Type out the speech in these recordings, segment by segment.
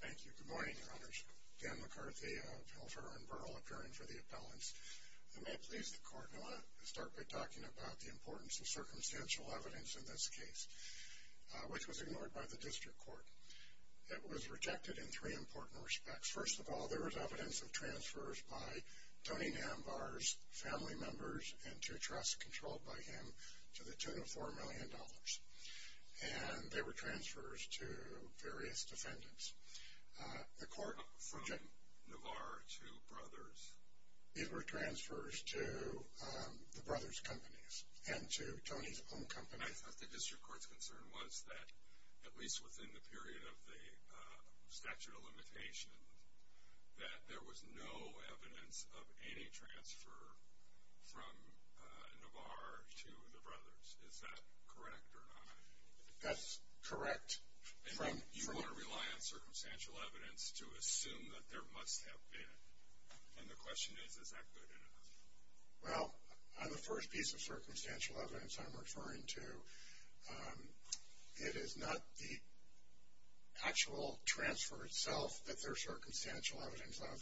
Thank you. Good morning, Your Honors. Dan McCarthy of Hilfer & Burl, appearing for the appellants. I may please the Court, and I want to start by talking about the importance of circumstantial evidence in this case, which was ignored by the District Court. It was rejected in three important respects. First of all, there was evidence of transfers by Tony Namvar's family members into a trust controlled by him to the tune of $4 million, and they were transfers to various defendants. The Court... From Namvar to Brothers. These were transfers to the Brothers' companies and to Tony's own company. I thought the District Court's concern was that, at least within the period of the statute of limitations, that there was no evidence of any transfer from Namvar to the Brothers. Is that correct or not? That's correct. You want to rely on circumstantial evidence to assume that there must have been, and the question is, is that good enough? Well, on the first piece of circumstantial evidence I'm referring to, it is not the actual transfer itself that there's circumstantial evidence of.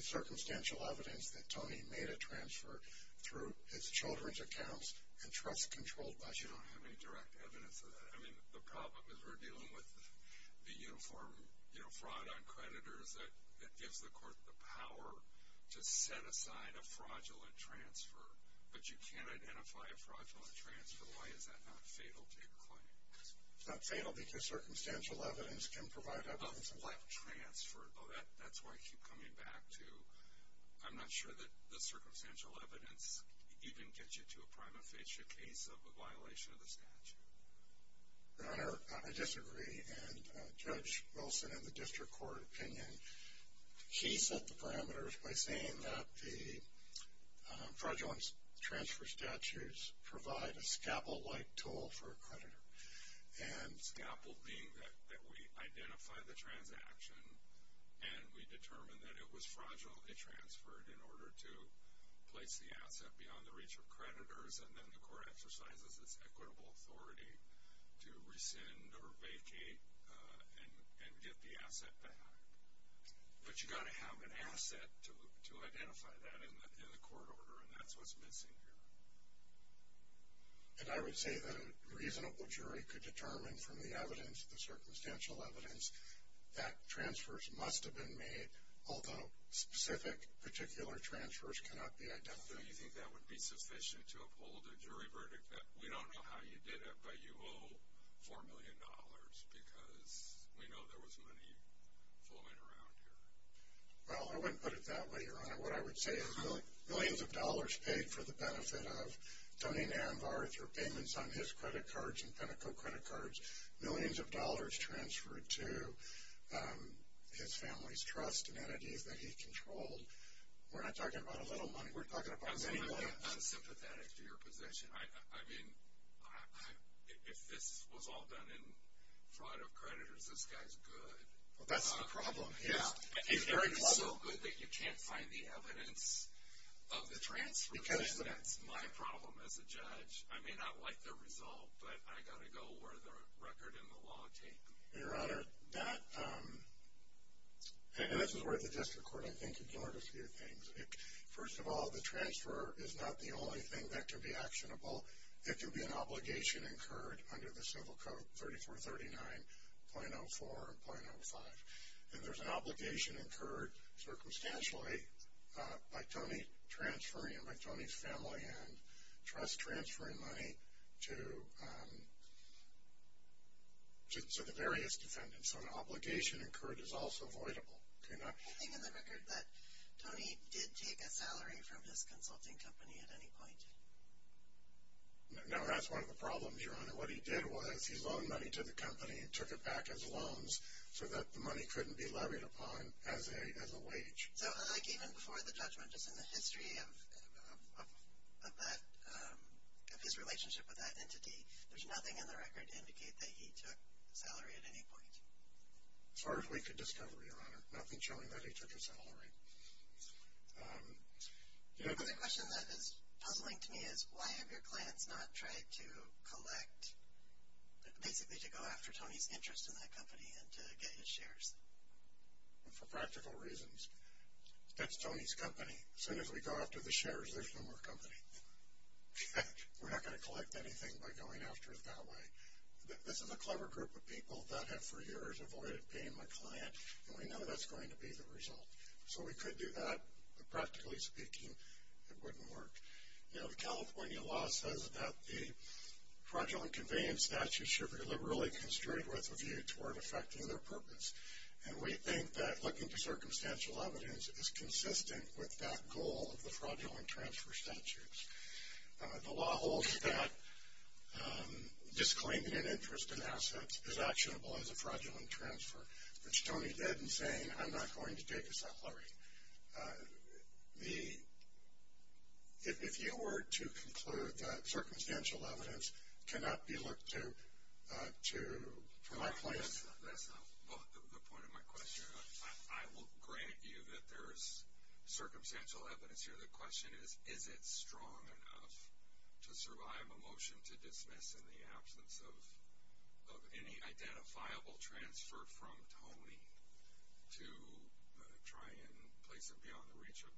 It's circumstantial evidence that Tony made a transfer through his children's accounts and trust controlled by him. You don't have any direct evidence of that. I mean, the problem is we're dealing with the uniform fraud on creditors that gives the Court the power to set aside a fraudulent transfer, but you can't identify a fraudulent transfer. Why is that not fatal to your client? It's not fatal because circumstantial evidence can provide evidence of that transfer. That's why I keep coming back to, I'm not sure that the circumstantial evidence even gets you to a prima facie case of a violation of the statute. Your Honor, I disagree, and Judge Wilson in the District Court opinion, he set the parameters by saying that the fraudulent transfer statutes provide a scalpel-like tool for a creditor. Scalpel being that we identify the transaction and we determine that it was fraudulently transferred in order to place the asset beyond the reach of creditors, and then the Court exercises its equitable authority to rescind or vacate and get the asset back. But you've got to have an asset to identify that in the Court order, and that's what's missing here. And I would say that a reasonable jury could determine from the evidence, the circumstantial evidence, that transfers must have been made, although specific, particular transfers cannot be identified. So you think that would be sufficient to uphold a jury verdict that we don't know how you did it, but you owe $4 million because we know there was money flowing around here? Well, I wouldn't put it that way, Your Honor. What I would say is millions of dollars paid for the benefit of Tony Nanvar through payments on his credit cards and Pinnacle credit cards, millions of dollars transferred to his family's trust and entities that he controlled. We're not talking about a little money. We're talking about many millions. I'm sympathetic to your position. I mean, if this was all done in front of creditors, this guy's good. Well, that's the problem. He's very clever. It's so good that you can't find the evidence of the transfers, and that's my problem as a judge. I may not like the result, but I got to go where the record and the law take me. Your Honor, that, and this is where the district court, I think, ignored a few things. First of all, the transfer is not the only thing that can be actionable. It can be an obligation incurred under the Civil Code, 3439.04 and .05. And there's an obligation incurred circumstantially by Tony transferring, by Tony's family and trust transferring money to the various defendants. So an obligation incurred is also voidable. I think in the record that Tony did take a salary from his consulting company at any point. And what he did was he loaned money to the company and took it back as loans so that the money couldn't be levied upon as a wage. So like even before the judgment, just in the history of that, of his relationship with that entity, there's nothing in the record to indicate that he took a salary at any point? As far as we could discover, Your Honor. Nothing showing that he took a salary. Another question that is puzzling to me is why have your clients not tried to collect, basically to go after Tony's interest in that company and to get his shares? For practical reasons. That's Tony's company. As soon as we go after the shares, there's no more company. We're not going to collect anything by going after it that way. This is a clever group of people that have for years avoided being my client, and we know that's going to be the result. So we could do that, but practically speaking, it wouldn't work. You know, the California law says that the fraudulent conveyance statutes should be liberally construed with a view toward effecting their purpose, and we think that looking to circumstantial evidence is consistent with that goal of the fraudulent transfer statutes. The law holds that disclaiming an interest in assets is actionable as a fraudulent transfer, which Tony did in saying, I'm not going to take a salary. If you were to conclude that circumstantial evidence cannot be looked to for my clients. That's not the point of my question. I will grant you that there is circumstantial evidence here. The question is, is it strong enough to survive a motion to dismiss in the absence of any identifiable transfer from Tony to try and place him beyond the reach of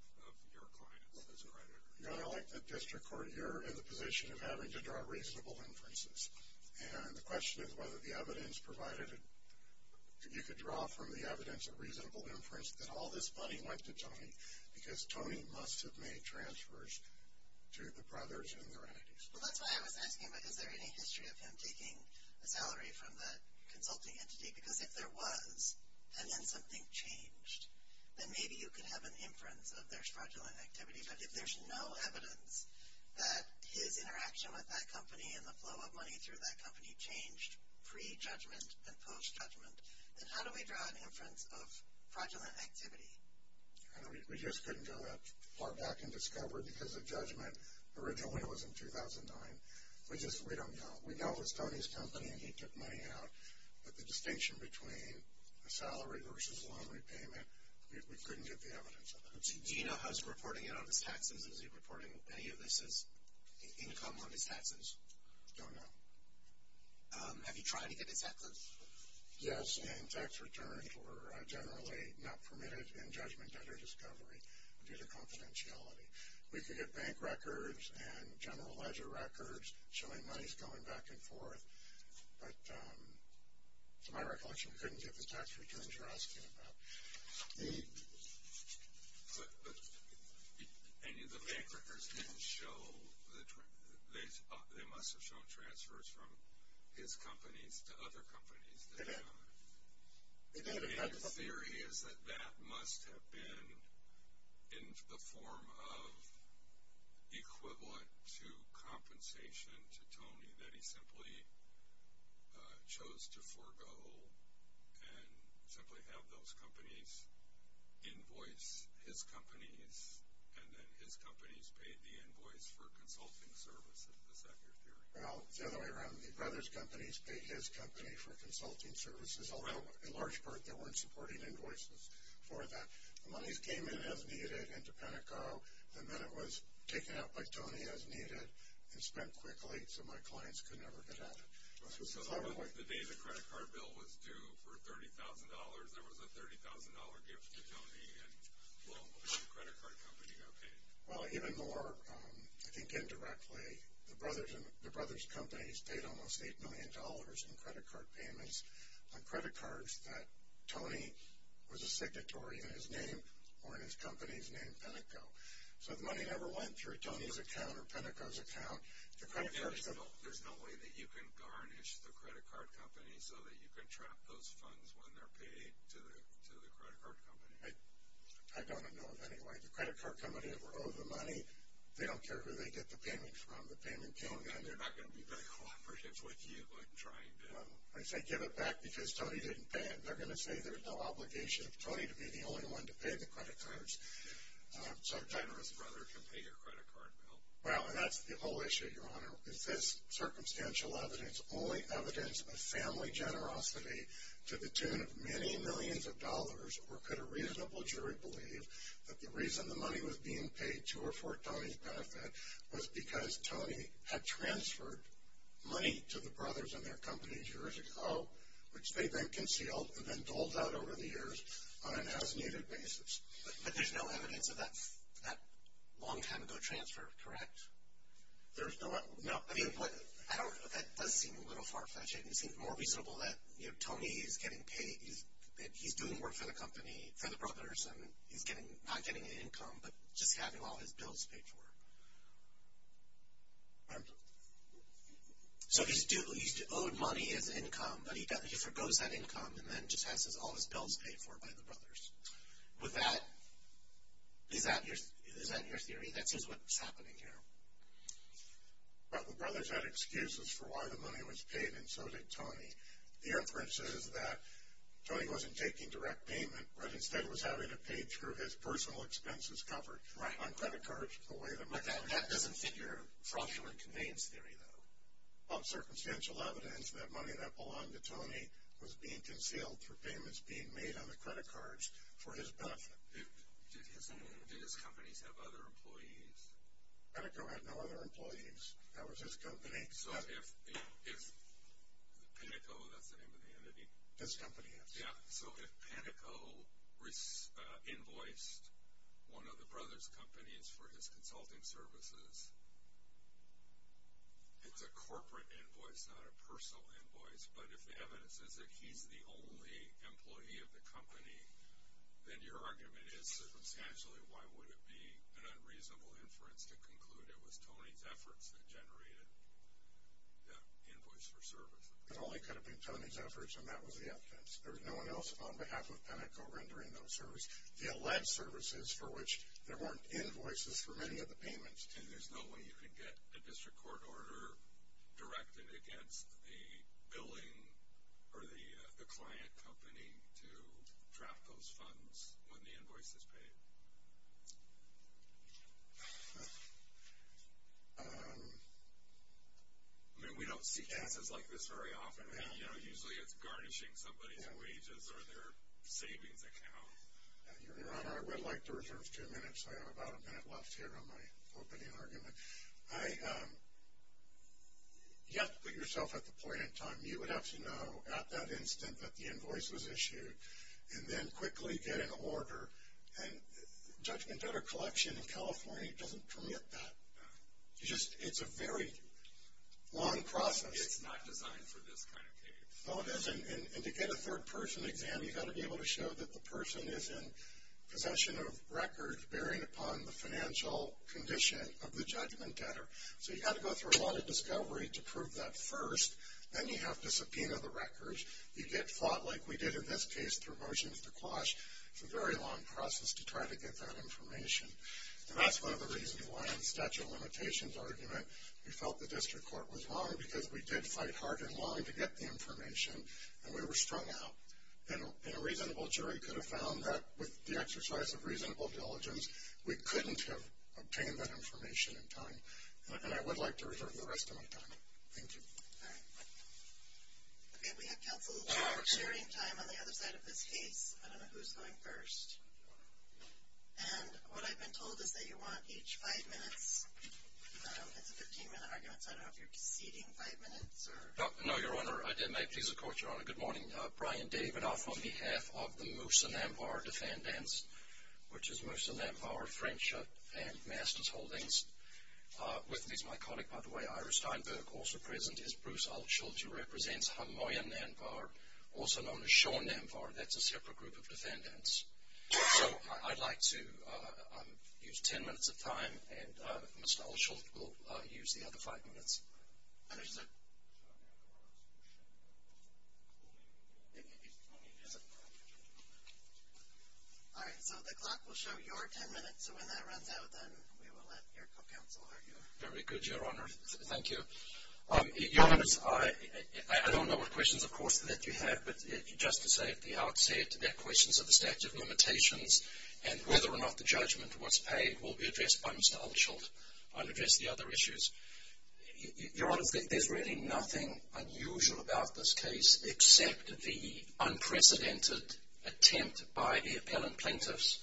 your clients as a creditor? You know, I like the district court. You're in the position of having to draw reasonable inferences. And the question is whether the evidence provided that you could draw from the evidence a reasonable inference that all this money went to Tony, because Tony must have made transfers to the Brothers and the Rennettys. Well, that's why I was asking, is there any history of him taking a salary from that consulting entity? Because if there was, and then something changed, then maybe you could have an inference of there's fraudulent activity. But if there's no evidence that his interaction with that company and the flow of money through that company changed pre-judgment and post-judgment, then how do we draw an inference of fraudulent activity? We just couldn't go that far back and discover, because of judgment, originally it was in 2009. We just don't know. We know it was Tony's company and he took money out, but the distinction between a salary versus a loan repayment, we couldn't get the evidence of that. Do you know how he's reporting it on his taxes? Is he reporting any of this as income on his taxes? Don't know. Have you tried to get his equity? Yes, and tax returns were generally not permitted in judgment under discovery due to confidentiality. We could get bank records and general ledger records showing monies going back and forth, but to my recollection, we couldn't get the tax returns you're asking about. But any of the bank records didn't show the, they must have shown transfers from his companies to other companies. The theory is that that must have been in the form of equivalent to compensation to Tony, that he simply chose to forego and simply have those companies invoice his companies, and then his companies paid the invoice for consulting services. Is that your theory? Well, it's the other way around. The brothers' companies paid his company for consulting services, although in large part they weren't supporting invoices for that. The monies came in as needed into Penteco, and then it was taken out by Tony as needed and spent quickly so my clients could never get at it. So the day the credit card bill was due for $30,000, there was a $30,000 gift to Tony, and a lot of credit card companies got paid. Well, even more, I think indirectly, the brothers' companies paid almost $8 million in credit card payments on credit cards that Tony was a signatory in his name or in his company's name, Penteco. So the money never went through Tony's account or Penteco's account. There's no way that you can garnish the credit card company so that you can trap those funds when they're paid to the credit card company? I don't know of any way. The credit card company that were owed the money, they don't care who they get the payment from. The payment came in. They're not going to be very cooperative with you in trying to... Well, I say give it back because Tony didn't pay it. They're going to say there's no obligation of Tony to be the only one to pay the credit cards. So a generous brother can pay your credit card bill. Well, that's the whole issue, Your Honor. Is this circumstantial evidence only evidence of family generosity to the tune of many millions of dollars, or could a reasonable jury believe that the reason the money was being paid to or for Tony's benefit was because Tony had transferred money to the brothers and their companies years ago, which they then concealed and then doled out over the years on an as-needed basis? But there's no evidence of that long time ago transfer, correct? No. I mean, that does seem a little far-fetched. It seems more reasonable that, you know, Tony is getting paid. He's doing work for the company, for the brothers, and he's not getting an income, but just having all his bills paid for. So he's owed money as income, but he forgoes that income and then just has all his bills paid for by the brothers. With that, is that your theory? That's just what's happening here. But the brothers had excuses for why the money was paid, and so did Tony. The inference is that Tony wasn't taking direct payment, but instead was having it paid through his personal expenses coverage on credit cards. But that doesn't fit your fraudulent conveyance theory, though. Well, circumstantial evidence that money that belonged to Tony was being concealed for payments being made on the credit cards for his benefit. Did his companies have other employees? Panico had no other employees. That was his company. So if Panico, that's the name of the entity? His company, yes. Yeah. So if Panico invoiced one of the brothers' companies for his consulting services, it's a corporate invoice, not a personal invoice. But if the evidence is that he's the only employee of the company, then your argument is circumstantially, why would it be an unreasonable inference to conclude it was Tony's efforts that generated the invoice for services? It only could have been Tony's efforts, and that was the evidence. There was no one else on behalf of Panico rendering those services. The alleged services for which there weren't invoices for many of the payments. And there's no way you can get a district court order directed against the billing or the client company to draft those funds when the invoice is paid? I mean, we don't see cases like this very often. Usually it's garnishing somebody's wages or their savings account. Your Honor, I would like to reserve two minutes. I have about a minute left here on my opening argument. You have to put yourself at the point in time. You would have to know at that instant that the invoice was issued and then quickly get an order. And Judgment Debtor Collection in California doesn't permit that. It's a very long process. It's not designed for this kind of case. No, it isn't. And to get a third-person exam, you've got to be able to show that the person is in possession of records bearing upon the financial condition of the judgment debtor. So you've got to go through a lot of discovery to prove that first. Then you have to subpoena the records. You get fought like we did in this case through motions to quash. It's a very long process to try to get that information. And that's one of the reasons why in the statute of limitations argument, we felt the district court was wrong because we did fight hard and long to get the information, and we were strung out. And a reasonable jury could have found that with the exercise of reasonable diligence, we couldn't have obtained that information in time. And I would like to reserve the rest of my time. Thank you. All right. Okay, we have counsel sharing time on the other side of this case. I don't know who's going first. And what I've been told is that you want each five minutes. It's a 15-minute argument, so I don't know if you're ceding five minutes. No, Your Honor. I did. May it please the Court, Your Honor. Good morning. Brian David off on behalf of the Moosa-Nanvar defendants, which is Moosa-Nanvar, French and Masters Holdings. With me is my colleague, by the way, Ira Steinberg. Also present is Bruce Ullschulte, who represents Hamoya-Nanvar, also known as Shaw-Nanvar. That's a separate group of defendants. So I'd like to use ten minutes of time, and Mr. Ullschulte will use the other five minutes. All right, so the clock will show your ten minutes. So when that runs out, then we will let your counsel argue. Very good, Your Honor. Thank you. Your Honors, I don't know what questions, of course, that you have, but just to say at the outset that questions of the statute of limitations and whether or not the judgment was paid will be addressed by Mr. Ullschulte. I'll address the other issues. Your Honors, there's really nothing unusual about this case except the unprecedented attempt by the appellant plaintiffs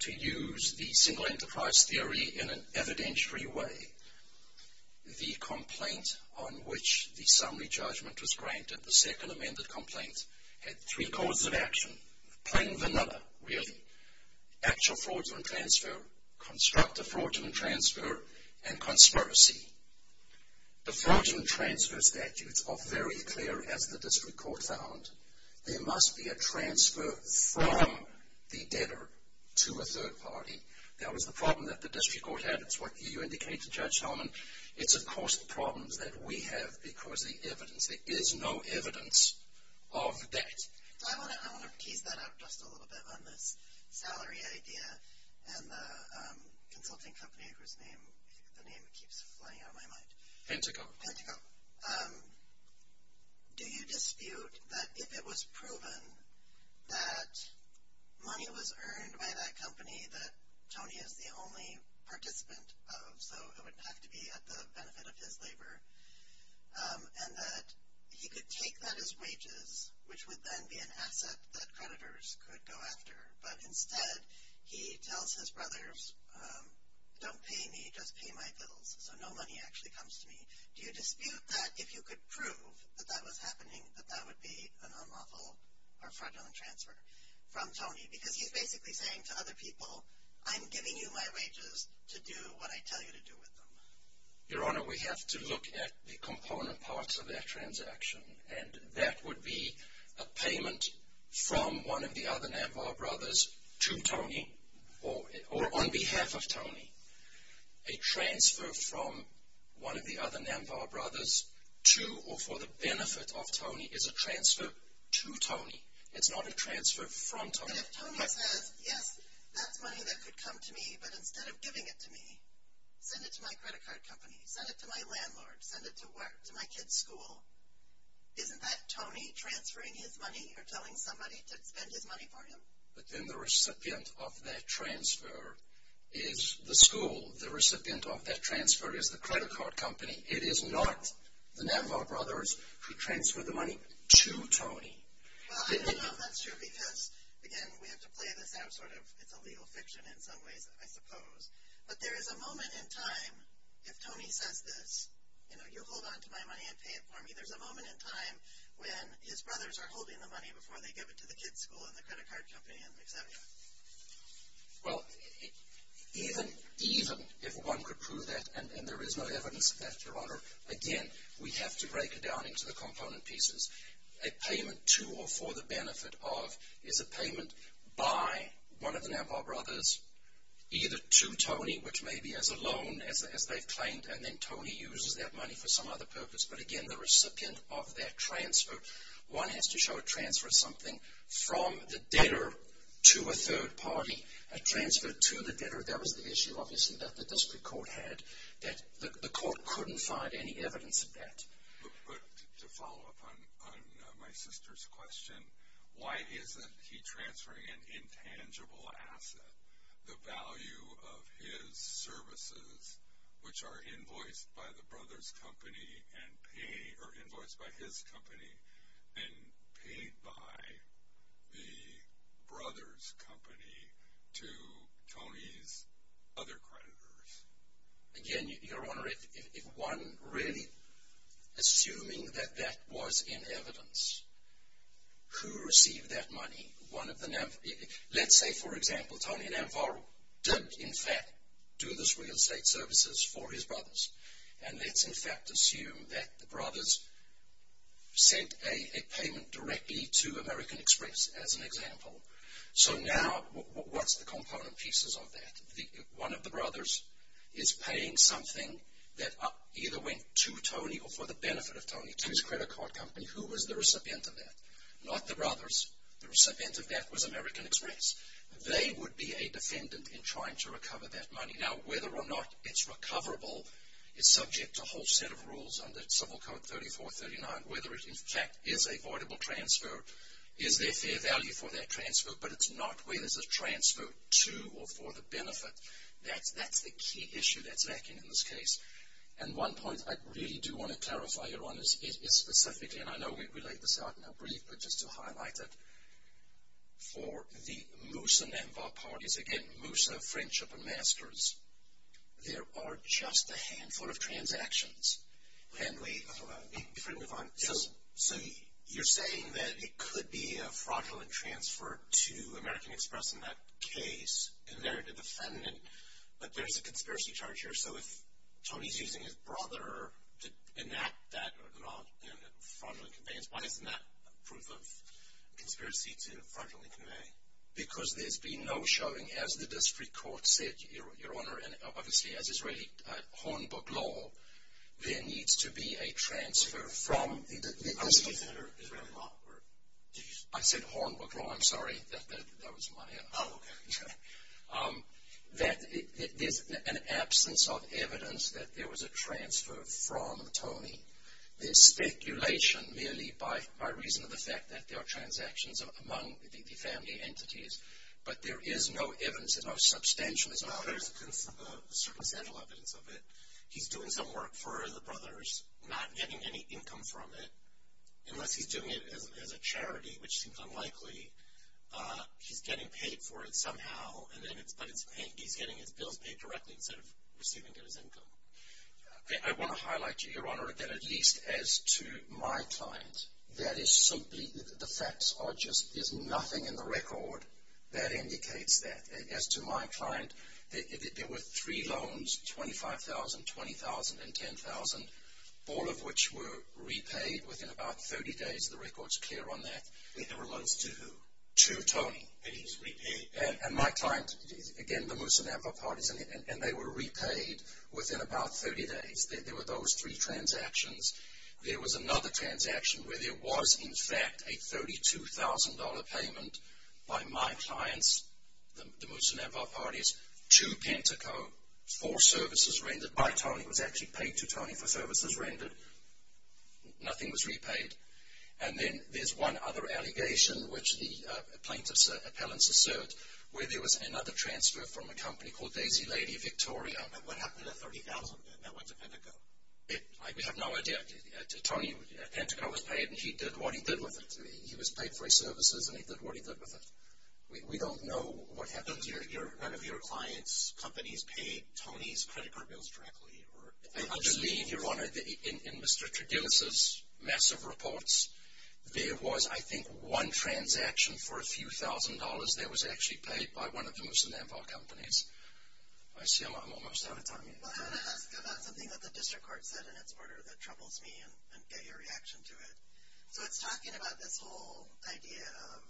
to use the single enterprise theory in an evidentiary way. The complaint on which the summary judgment was granted, the second amended complaint, had three codes of action, plain vanilla, really. Actual fraudulent transfer, constructive fraudulent transfer, and conspiracy. The fraudulent transfer statutes are very clear, as the district court found. There must be a transfer from the debtor to a third party. That was the problem that the district court had. It's what you indicated, Judge Hellman. It's, of course, the problems that we have because the evidence, there is no evidence of that. I want to tease that out just a little bit on this salary idea and the consulting company whose name, the name keeps flying out of my mind. Penteco. Penteco. Do you dispute that if it was proven that money was earned by that company that Tony is the only participant of, so it wouldn't have to be at the benefit of his labor, and that he could take that as wages, which would then be an asset that creditors could go after, but instead he tells his brothers, don't pay me, just pay my bills, so no money actually comes to me. Do you dispute that if you could prove that that was happening, that that would be an unlawful or fraudulent transfer from Tony? Because he's basically saying to other people, I'm giving you my wages to do what I tell you to do with them. Your Honor, we have to look at the component parts of that transaction, and that would be a payment from one of the other Namvah brothers to Tony or on behalf of Tony. A transfer from one of the other Namvah brothers to or for the benefit of Tony is a transfer to Tony. And if Tony says, yes, that's money that could come to me, but instead of giving it to me, send it to my credit card company, send it to my landlord, send it to my kid's school, isn't that Tony transferring his money or telling somebody to spend his money for him? But then the recipient of that transfer is the school. The recipient of that transfer is the credit card company. It is not the Namvah brothers who transfer the money to Tony. Well, I don't know if that's true because, again, we have to play this out sort of. It's a legal fiction in some ways, I suppose. But there is a moment in time if Tony says this, you know, you hold on to my money and pay it for me, there's a moment in time when his brothers are holding the money before they give it to the kid's school and the credit card company and et cetera. Well, even if one could prove that and there is no evidence of that, Your Honor, again, we have to break it down into the component pieces. A payment to or for the benefit of is a payment by one of the Namvah brothers either to Tony, which may be as a loan as they've claimed, and then Tony uses that money for some other purpose. But, again, the recipient of that transfer, one has to show a transfer of something from the debtor to a third party. A transfer to the debtor, that was the issue, obviously, that the district court had, that the court couldn't find any evidence of that. But to follow up on my sister's question, why isn't he transferring an intangible asset, the value of his services, which are invoiced by the brother's company and paid, or invoiced by his company and paid by the brother's company to Tony's other creditors? Again, Your Honor, if one really, assuming that that was in evidence, who received that money? Let's say, for example, Tony Namvah did, in fact, do those real estate services for his brothers. And let's, in fact, assume that the brothers sent a payment directly to American Express, as an example. So now, what's the component pieces of that? One of the brothers is paying something that either went to Tony or for the benefit of Tony to his credit card company. Who was the recipient of that? Not the brothers. The recipient of that was American Express. They would be a defendant in trying to recover that money. Now, whether or not it's recoverable is subject to a whole set of rules under Civil Code 3439. Whether it, in fact, is a voidable transfer, is there fair value for that transfer, but it's not where there's a transfer to or for the benefit. That's the key issue that's lacking in this case. And one point I really do want to clarify, Your Honor, is specifically, and I know we laid this out in our brief, but just to highlight it, for the Moosa-Namvah parties, again, Moosa, Friendship, and Masters, there are just a handful of transactions. If we can move on. So you're saying that it could be a fraudulent transfer to American Express in that case, and they're the defendant, but there's a conspiracy charge here, so if Tony's using his brother to enact that fraudulent conveyance, why isn't that proof of conspiracy to fraudulently convey? Because there's been no showing. As the district court said, Your Honor, and obviously as Israeli Hornbook Law, there needs to be a transfer from the district. I said Hornbook Law. I said Hornbook Law. I'm sorry. That was Maya. Oh, okay. That there's an absence of evidence that there was a transfer from Tony. There's speculation merely by reason of the fact that there are transactions among the family entities, but there is no evidence that are substantial. There's circumstantial evidence of it. He's doing some work for the brothers, not getting any income from it, unless he's doing it as a charity, which seems unlikely. He's getting paid for it somehow, but he's getting his bills paid directly instead of receiving his income. I want to highlight to you, Your Honor, that at least as to my client, that is simply the facts. There's nothing in the record that indicates that. As to my client, there were three loans, $25,000, $20,000, and $10,000, all of which were repaid within about 30 days. The record's clear on that. There were loans to who? To Tony. And he's repaid? And my client, again, the Musonambwa Parties, and they were repaid within about 30 days. There were those three transactions. There was another transaction where there was, in fact, a $32,000 payment by my clients, the Musonambwa Parties, to Penteco for services rendered by Tony. It was actually paid to Tony for services rendered. Nothing was repaid. And then there's one other allegation, which the plaintiff's appellants assert, where there was another transfer from a company called Daisy Lady Victoria. And what happened to the $30,000 that went to Penteco? I have no idea. Tony, Penteco was paid, and he did what he did with it. He was paid for his services, and he did what he did with it. We don't know what happens. None of your clients' companies paid Tony's credit card bills directly? I believe, Your Honor, in Mr. Trigilsa's massive reports, there was, I think, one transaction for a few thousand dollars that was actually paid by one of the Musonambwa companies. I see I'm almost out of time. Well, I want to ask about something that the district court said in its order that troubles me, and get your reaction to it. So it's talking about this whole idea of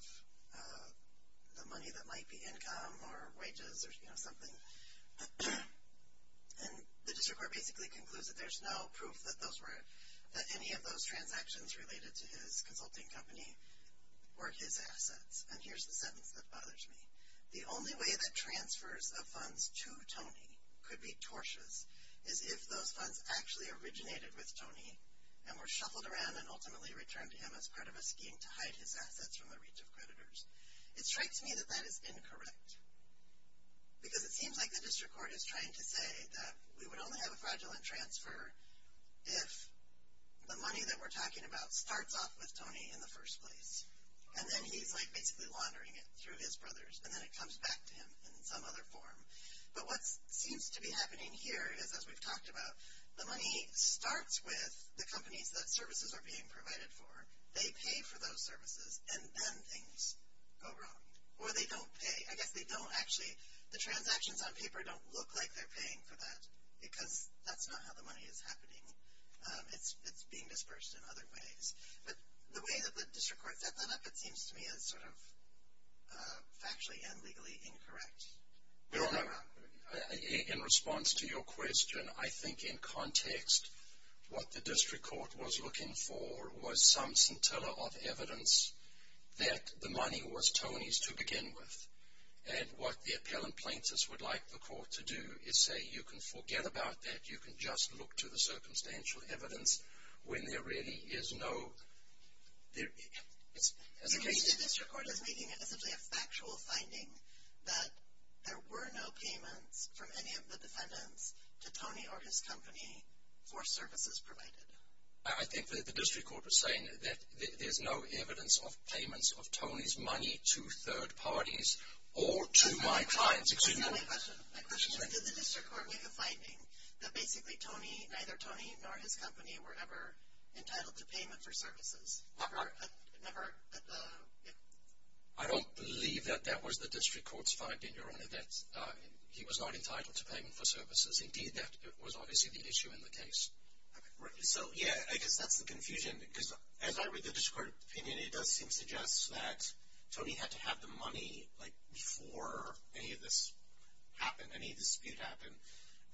the money that might be income or wages or, you know, something. And the district court basically concludes that there's no proof that those were, that any of those transactions related to his consulting company were his assets. And here's the sentence that bothers me. The only way that transfers of funds to Tony could be tortious is if those funds actually originated with Tony and were shuffled around and ultimately returned to him as part of a scheme to hide his assets from the reach of creditors. It strikes me that that is incorrect. Because it seems like the district court is trying to say that we would only have a fraudulent transfer if the money that we're talking about starts off with Tony in the first place. And then he's, like, basically laundering it through his brothers, and then it comes back to him in some other form. But what seems to be happening here is, as we've talked about, the money starts with the companies that services are being provided for. They pay for those services, and then things go wrong. Or they don't pay. I guess they don't actually, the transactions on paper don't look like they're paying for that, because that's not how the money is happening. It's being dispersed in other ways. But the way that the district court set that up, it seems to me, is sort of factually and legally incorrect. In response to your question, I think, in context, what the district court was looking for was some scintilla of evidence that the money was Tony's to begin with. And what the appellant plaintiffs would like the court to do is say, you can forget about that. You can just look to the circumstantial evidence when there really is no... The district court is making essentially a factual finding that there were no payments from any of the defendants to Tony or his company for services provided. I think that the district court was saying that there's no evidence of payments of Tony's money to third parties or to my clients. My question is, did the district court make a finding that basically Tony, neither Tony nor his company were ever entitled to payment for services? Never. I don't believe that that was the district court's finding, Your Honor, that he was not entitled to payment for services. Indeed, that was obviously the issue in the case. So, yeah, I guess that's the confusion. Because as I read the district court opinion, it does seem to suggest that Tony had to have the money, like, before any of this happened, any dispute happened,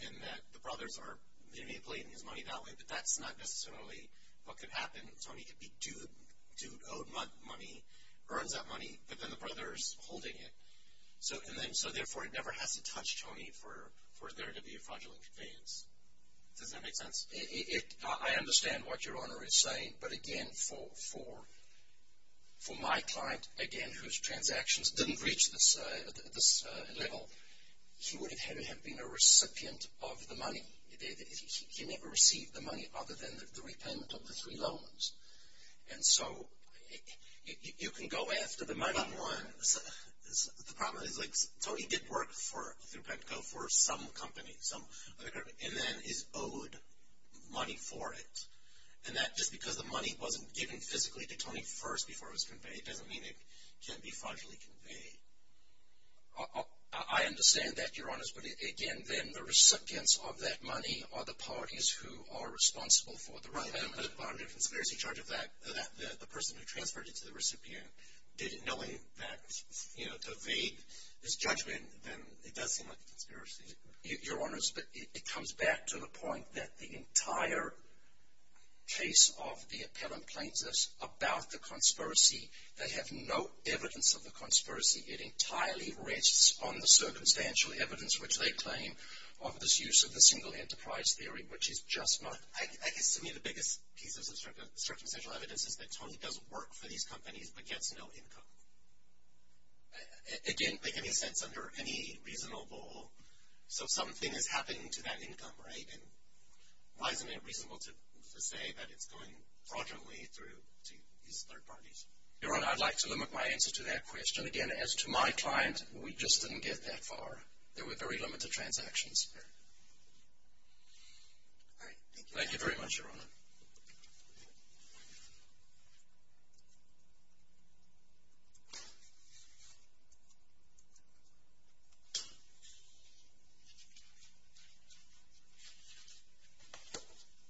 and that the brothers are manipulating his money that way. But that's not necessarily what could happen. Tony could be due owed money, earns that money, but then the brother is holding it. So, therefore, it never has to touch Tony for there to be a fraudulent conveyance. Does that make sense? I understand what Your Honor is saying, but, again, for my client, again, whose transactions didn't reach this level, he would have had to have been a recipient of the money. He never received the money other than the repayment of the three loans. And so, you can go after the money one. The problem is, like, Tony did work through PEPCO for some company, some other company, and then is owed money for it. And that just because the money wasn't given physically to Tony first before it was conveyed doesn't mean it can't be fraudulently conveyed. I understand that, Your Honors, but, again, then, the recipients of that money are the parties who are responsible for the run-up. Right. But on the conspiracy charge of that, the person who transferred it to the recipient, did it knowing that, you know, to evade his judgment, then it does seem like a conspiracy. Your Honors, it comes back to the point that the entire case of the appellant plaintiffs about the conspiracy, they have no evidence of the conspiracy. It entirely rests on the circumstantial evidence, which they claim, of this use of the single enterprise theory, which is just not. I guess, to me, the biggest piece of circumstantial evidence is that Tony does work for these companies, but gets no income. Again, making sense under any reasonable, so something is happening to that income, right? Why isn't it reasonable to say that it's going fraudulently through these third parties? Your Honor, I'd like to limit my answer to that question. Again, as to my client, we just didn't get that far. There were very limited transactions. Thank you very much, Your Honor.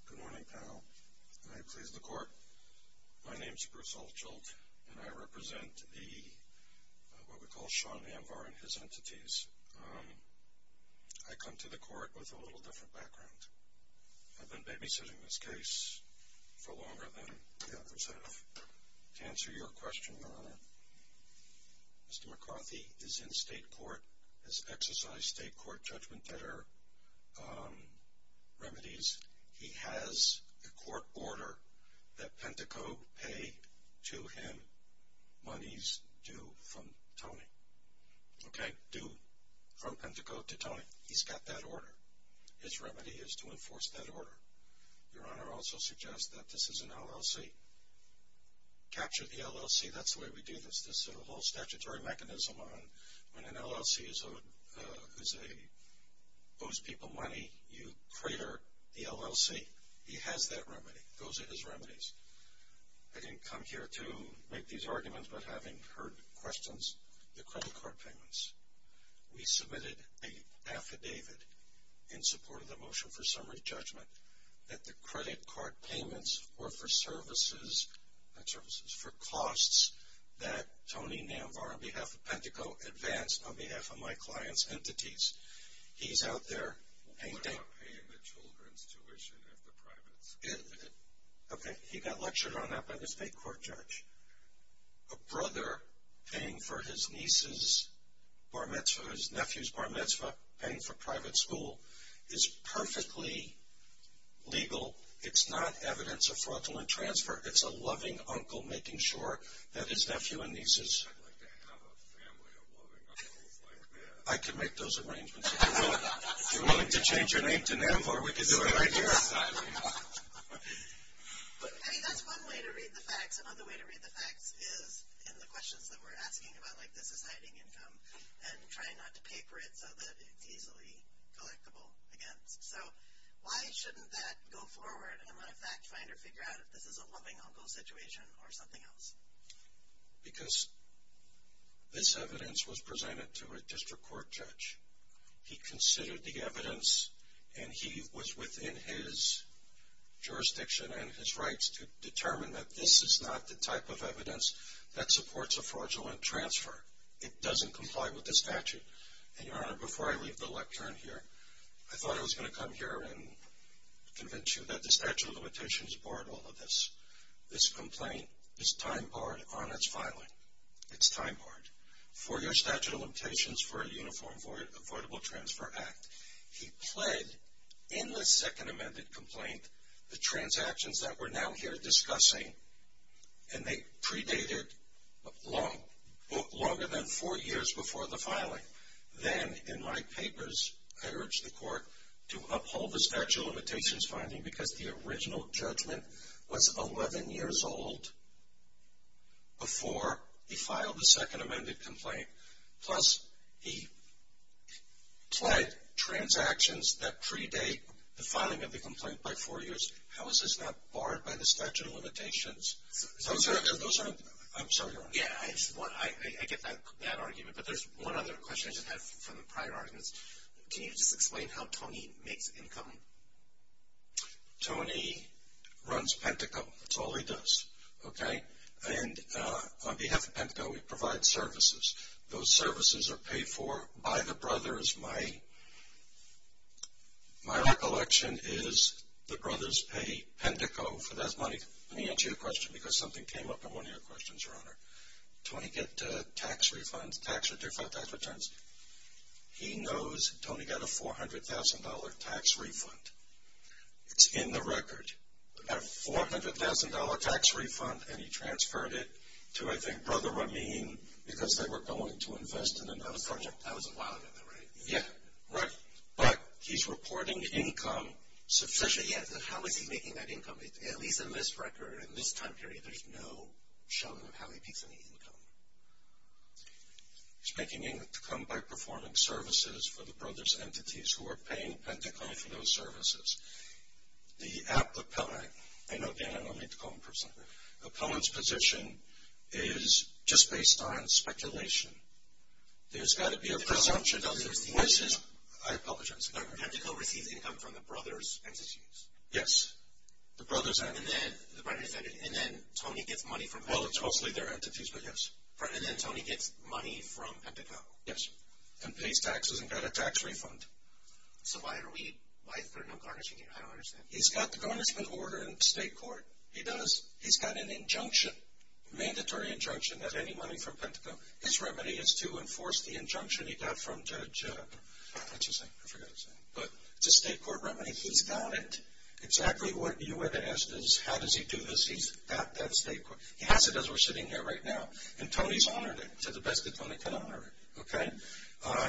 Good morning, panel. May I please the Court? My name is Bruce Altshult, and I represent what we call Sean Anvar and his entities. I come to the Court with a little different background. I've been babysitting this case for longer than the other staff. To answer your question, Your Honor, Mr. McCarthy is in state court, has exercised state court judgment that are remedies. He has a court order that Penteco pay to him monies due from Tony, okay, due from Penteco to Tony. He's got that order. His remedy is to enforce that order. Your Honor, I also suggest that this is an LLC. Capture the LLC. That's the way we do this. This is a whole statutory mechanism. When an LLC owes people money, you crater the LLC. He has that remedy. Those are his remedies. I didn't come here to make these arguments but having heard questions. The credit card payments. We submitted an affidavit in support of the motion for summary judgment that the credit card payments were for services, for costs that Tony Namvar on behalf of Penteco advanced on behalf of my client's entities. He's out there. What about paying the children's tuition at the private school? Okay. He got lectured on that by the state court judge. A brother paying for his niece's bar mitzvah, his nephew's bar mitzvah, paying for private school is perfectly legal. It's not evidence of fraudulent transfer. It's a loving uncle making sure that his nephew and nieces. I'd like to have a family of loving uncles like that. I can make those arrangements. If you're willing to change your name to Namvar, we can do it right here. I mean that's one way to read the facts. Another way to read the facts is in the questions that we're asking about like this is hiding income and trying not to pay for it so that it's easily collectible again. So why shouldn't that go forward and let a fact finder figure out if this is a loving uncle situation or something else? Because this evidence was presented to a district court judge. He considered the evidence, and he was within his jurisdiction and his rights to determine that this is not the type of evidence that supports a fraudulent transfer. It doesn't comply with the statute. And, Your Honor, before I leave the lectern here, I thought I was going to come here and convince you that the statute of limitations barred all of this. This complaint is time-barred on its filing. It's time-barred. For your statute of limitations for a Uniform Affordable Transfer Act, he pled in the second amended complaint the transactions that we're now here discussing, and they predated longer than four years before the filing. Then, in my papers, I urged the court to uphold the statute of limitations finding because the original judgment was 11 years old before he filed the second amended complaint. Plus, he pled transactions that predate the filing of the complaint by four years. How is this not barred by the statute of limitations? I'm sorry, Your Honor. Yeah, I get that argument, but there's one other question I just have from the prior arguments. Can you just explain how Tony makes income? Tony runs Pentacle. That's all he does. Okay? And on behalf of Pentacle, we provide services. Those services are paid for by the brothers. My recollection is the brothers pay Pentacle for that money. Let me answer your question because something came up in one of your questions, Your Honor. Tony gets tax refunds, tax returns. He knows Tony got a $400,000 tax refund. It's in the record, a $400,000 tax refund, and he transferred it to, I think, Brother Rameen because they were going to invest in another project. That was a while ago, right? Yeah. Right. But he's reporting income sufficiently. Yeah, but how is he making that income? At least in this record, in this time period, there's no showing of how he makes any income. He's making income by performing services for the brothers' entities who are paying Pentacle for those services. I know Dan, I don't need to call him a person. The opponent's position is just based on speculation. There's got to be a presumption of the voices. I apologize. Pentacle receives income from the brothers' entities. Yes, the brothers' entities. And then Tony gets money from Pentacle. Well, it's mostly their entities, but yes. And then Tony gets money from Pentacle. Yes, and pays taxes and got a tax refund. So why are we, why is there no garnishing it? I don't understand. He's got the garnishment order in state court. He does. He's got an injunction, mandatory injunction, that any money from Pentacle His remedy is to enforce the injunction he got from Judge, what's his name? I forgot his name. But it's a state court remedy. He's got it. Exactly what you would have asked is how does he do this. He's got that state court. He has it as we're sitting here right now. And Tony's honored it to the best that Tony can honor it. Okay?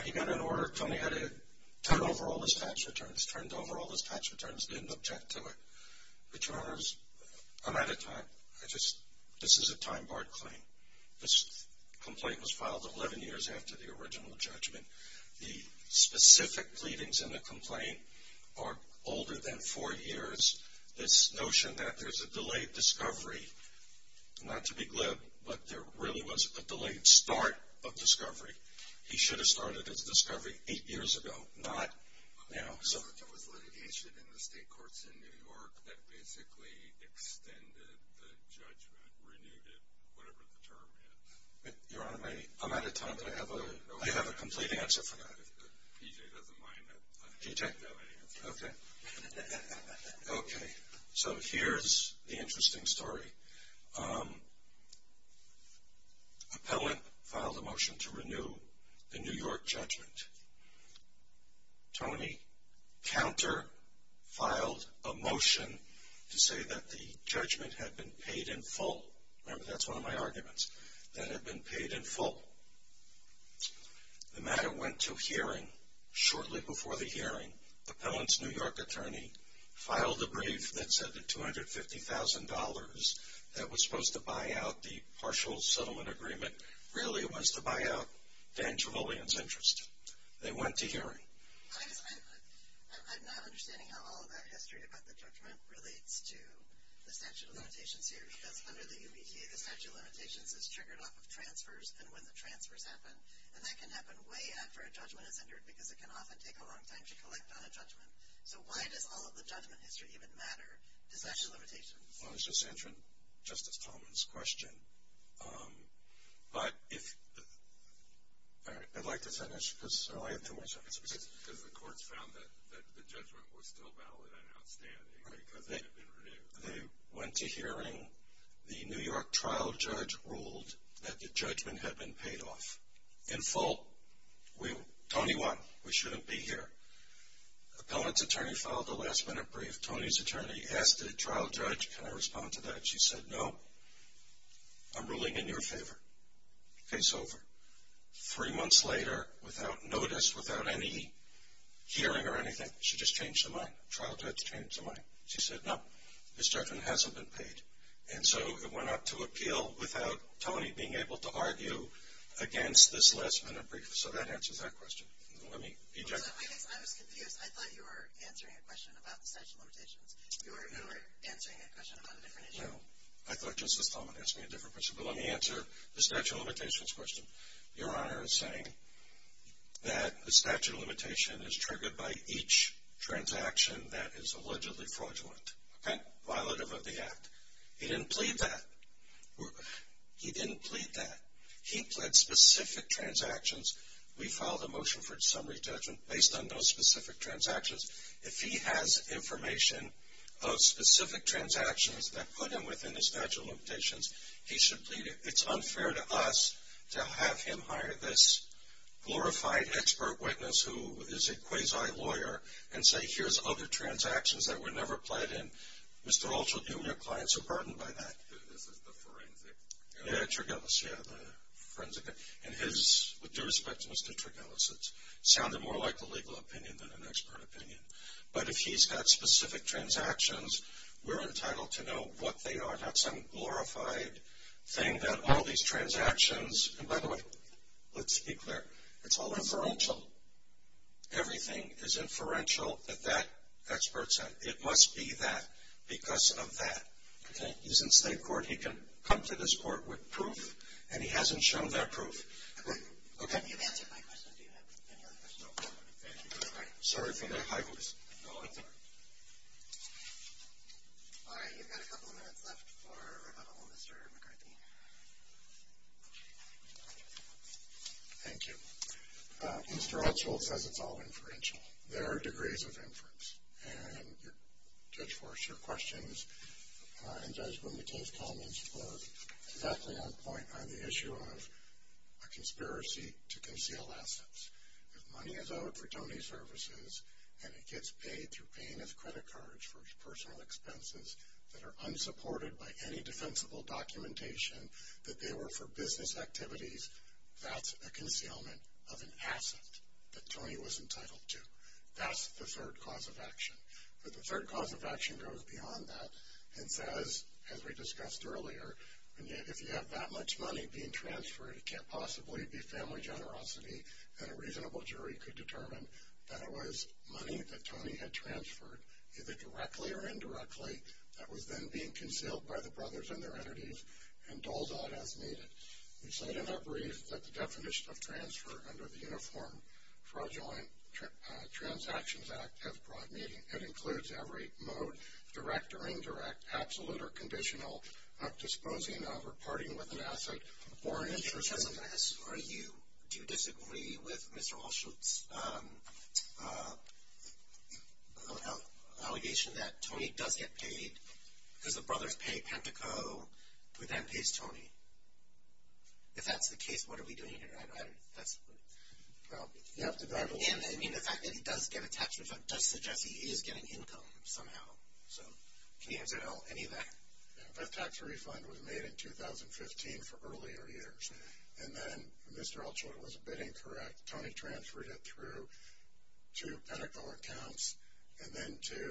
He got an order. Tony had to turn over all his tax returns, turned over all his tax returns, didn't object to it. Returners, I'm out of time. I just, this is a time-barred claim. This complaint was filed 11 years after the original judgment. The specific pleadings in the complaint are older than four years. This notion that there's a delayed discovery, not to be glib, but there really was a delayed start of discovery. He should have started his discovery eight years ago, not now. There was litigation in the state courts in New York that basically extended the judgment, renewed it, whatever the term is. Your Honor, I'm out of time, but I have a complete answer for that. If PJ doesn't mind, I have no answer. Okay. Okay. So here's the interesting story. Appellant filed a motion to renew the New York judgment. Tony counter-filed a motion to say that the judgment had been paid in full. Remember, that's one of my arguments, that it had been paid in full. The matter went to hearing shortly before the hearing. Appellant's New York attorney filed a brief that said the $250,000 that was supposed to buy out the partial settlement agreement really was to buy out Dan Trevelyan's interest. They went to hearing. I'm not understanding how all of that history about the judgment relates to the statute of limitations here, because under the UBTA, the statute of limitations is triggered off of transfers and when the transfers happen. And that can happen way after a judgment is entered, because it can often take a long time to collect on a judgment. So why does all of the judgment history even matter to statute of limitations? I was just answering Justice Tolman's question. But if – all right, I'd like to finish, because I have too much. Because the courts found that the judgment was still valid and outstanding because it had been renewed. They went to hearing. The New York trial judge ruled that the judgment had been paid off in full. Tony won. We shouldn't be here. Appellant's attorney filed a last-minute brief. Tony's attorney asked the trial judge, can I respond to that? She said, no. I'm ruling in your favor. Case over. Three months later, without notice, without any hearing or anything, she just changed her mind. Trial judge changed her mind. She said, no, this judgment hasn't been paid. And so it went up to appeal without Tony being able to argue against this last-minute brief. So that answers that question. I was confused. I thought you were answering a question about the statute of limitations. You were answering a question about a different issue. I thought Justice Tolman asked me a different question. But let me answer the statute of limitations question. Your Honor is saying that the statute of limitation is triggered by each transaction that is allegedly fraudulent, okay, violative of the act. He didn't plead that. He didn't plead that. He pled specific transactions. We filed a motion for summary judgment based on those specific transactions. If he has information of specific transactions that put him within the statute of limitations, he should plead it. It's unfair to us to have him hire this glorified expert witness who is a quasi-lawyer and say, here's other transactions that were never pled in. Mr. Altshuler, do we have clients who are burdened by that? This is the forensic. Yeah, the forensic. And his, with due respect to Mr. Trigellis, it sounded more like a legal opinion than an expert opinion. But if he's got specific transactions, we're entitled to know what they are, not some glorified thing that all these transactions. And, by the way, let's be clear. It's all inferential. Everything is inferential that that expert said. It must be that because of that. Okay? He's in state court. He can come to this court with proof, and he hasn't shown that proof. Okay? You've answered my question. Do you have any other questions? No. Thank you. Sorry for that high voice. No, that's all right. All right, you've got a couple of minutes left for rebuttal, Mr. McCarthy. Thank you. Mr. Altshuler says it's all inferential. There are degrees of inference. And, Judge Forrest, your questions and, Judge Boone, the case comments were exactly on point on the issue of a conspiracy to conceal assets. If money is owed for Tony's services and it gets paid through paying his credit cards for his personal expenses that are unsupported by any defensible documentation that they were for business activities, that's a concealment of an asset that Tony was entitled to. That's the third cause of action. But the third cause of action goes beyond that and says, as we discussed earlier, if you have that much money being transferred, it can't possibly be family generosity that a reasonable jury could determine that it was money that Tony had transferred, either directly or indirectly, that was then being concealed by the brothers and their entities and doled out as needed. We've said in our brief that the definition of transfer under the Uniform Fraudulent Transactions Act has broad meaning. It includes every mode, direct or indirect, absolute or conditional, disposing of or parting with an asset or interest in that. Do you disagree with Mr. Allschultz' allegation that Tony does get paid because the brothers pay Penteco who then pays Tony? If that's the case, what are we doing here? I mean, the fact that he does get a tax refund does suggest he is getting income somehow. So can you answer any of that? That tax refund was made in 2015 for earlier years. And then Mr. Allschultz was bidding for it. Tony transferred it through to Penteco accounts and then to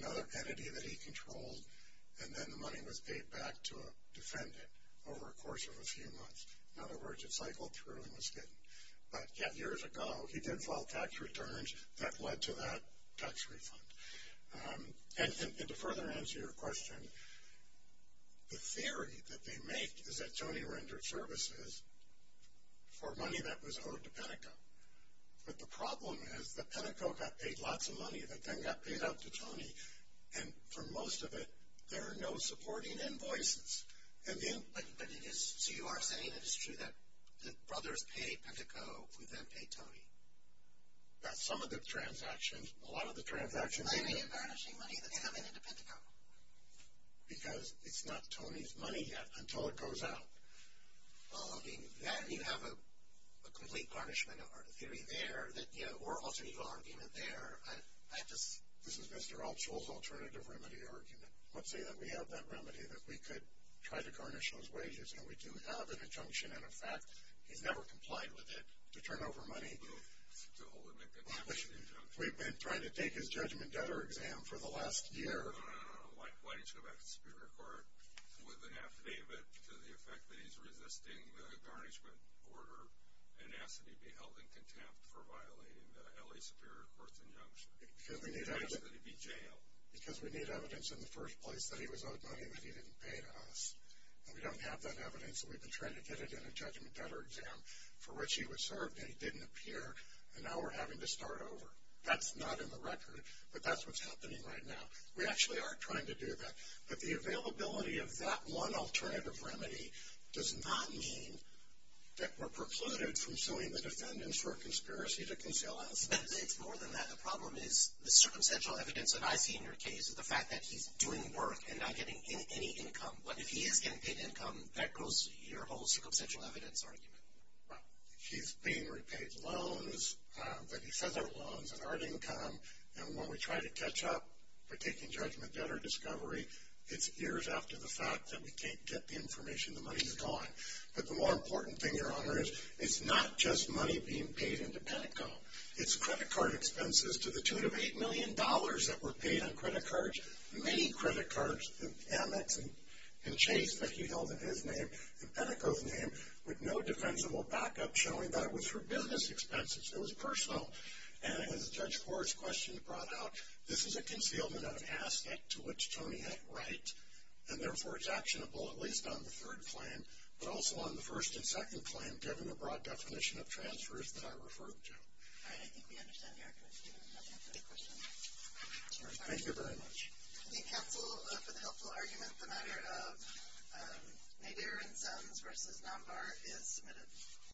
another entity that he controlled. And then the money was paid back to a defendant over a course of a few months. In other words, it cycled through and was hidden. But yet years ago, he did file tax returns that led to that tax refund. And to further answer your question, the theory that they make is that Tony rendered services for money that was owed to Penteco. But the problem is that Penteco got paid lots of money that then got paid out to Tony. And for most of it, there are no supporting invoices. So you are saying that it's true that the brothers pay Penteco who then pay Tony? That's some of the transactions. A lot of the transactions. Why are you garnishing money that's coming into Penteco? Because it's not Tony's money yet until it goes out. Well, I mean, then you have a complete garnishment theory there or alternative argument there. This is Mr. Allschultz's alternative remedy argument. Let's say that we have that remedy that we could try to garnish those wages. And we do have an injunction and a fact. He's never complied with it to turn over money. To hold him in contempt for the injunction. We've been trying to take his judgment debtor exam for the last year. No, no, no. Why didn't you go back to the Superior Court with an affidavit to the effect that he's resisting the garnishment order and asked that he be held in contempt for violating the L.A. Superior Court's injunction? Asked that he be jailed. Because we need evidence in the first place that he was owed money that he didn't pay to us. And we don't have that evidence. And we've been trying to get it in a judgment debtor exam for which he was served. And it didn't appear. And now we're having to start over. That's not in the record. But that's what's happening right now. We actually are trying to do that. But the availability of that one alternative remedy does not mean that we're precluded from suing the defendants for a conspiracy to conceal us. It's more than that. The problem is the circumstantial evidence that I see in your case is the fact that he's doing work and not getting any income. But if he is getting paid income, that goes to your whole circumstantial evidence argument. Right. He's being repaid loans that he says are loans that aren't income. And when we try to catch up, we're taking judgment debtor discovery. It's years after the fact that we can't get the information. The money is gone. But the more important thing, Your Honor, is it's not just money being paid into Penteco. It's credit card expenses to the tune of $8 million that were paid on credit cards. There were many credit cards, Amex and Chase, that he held in his name, in Penteco's name, with no defensible backup showing that it was for business expenses. It was personal. And as Judge Forrest's question brought out, this is a concealment of an aspect to which Tony had right, and therefore it's actionable, at least on the third claim, but also on the first and second claim, given the broad definition of transfers that I referred to. All right. I think we understand the accuracy of your question. Thank you very much. I think counsel, for the helpful argument, the matter of Nader and Sons versus Nambar is submitted.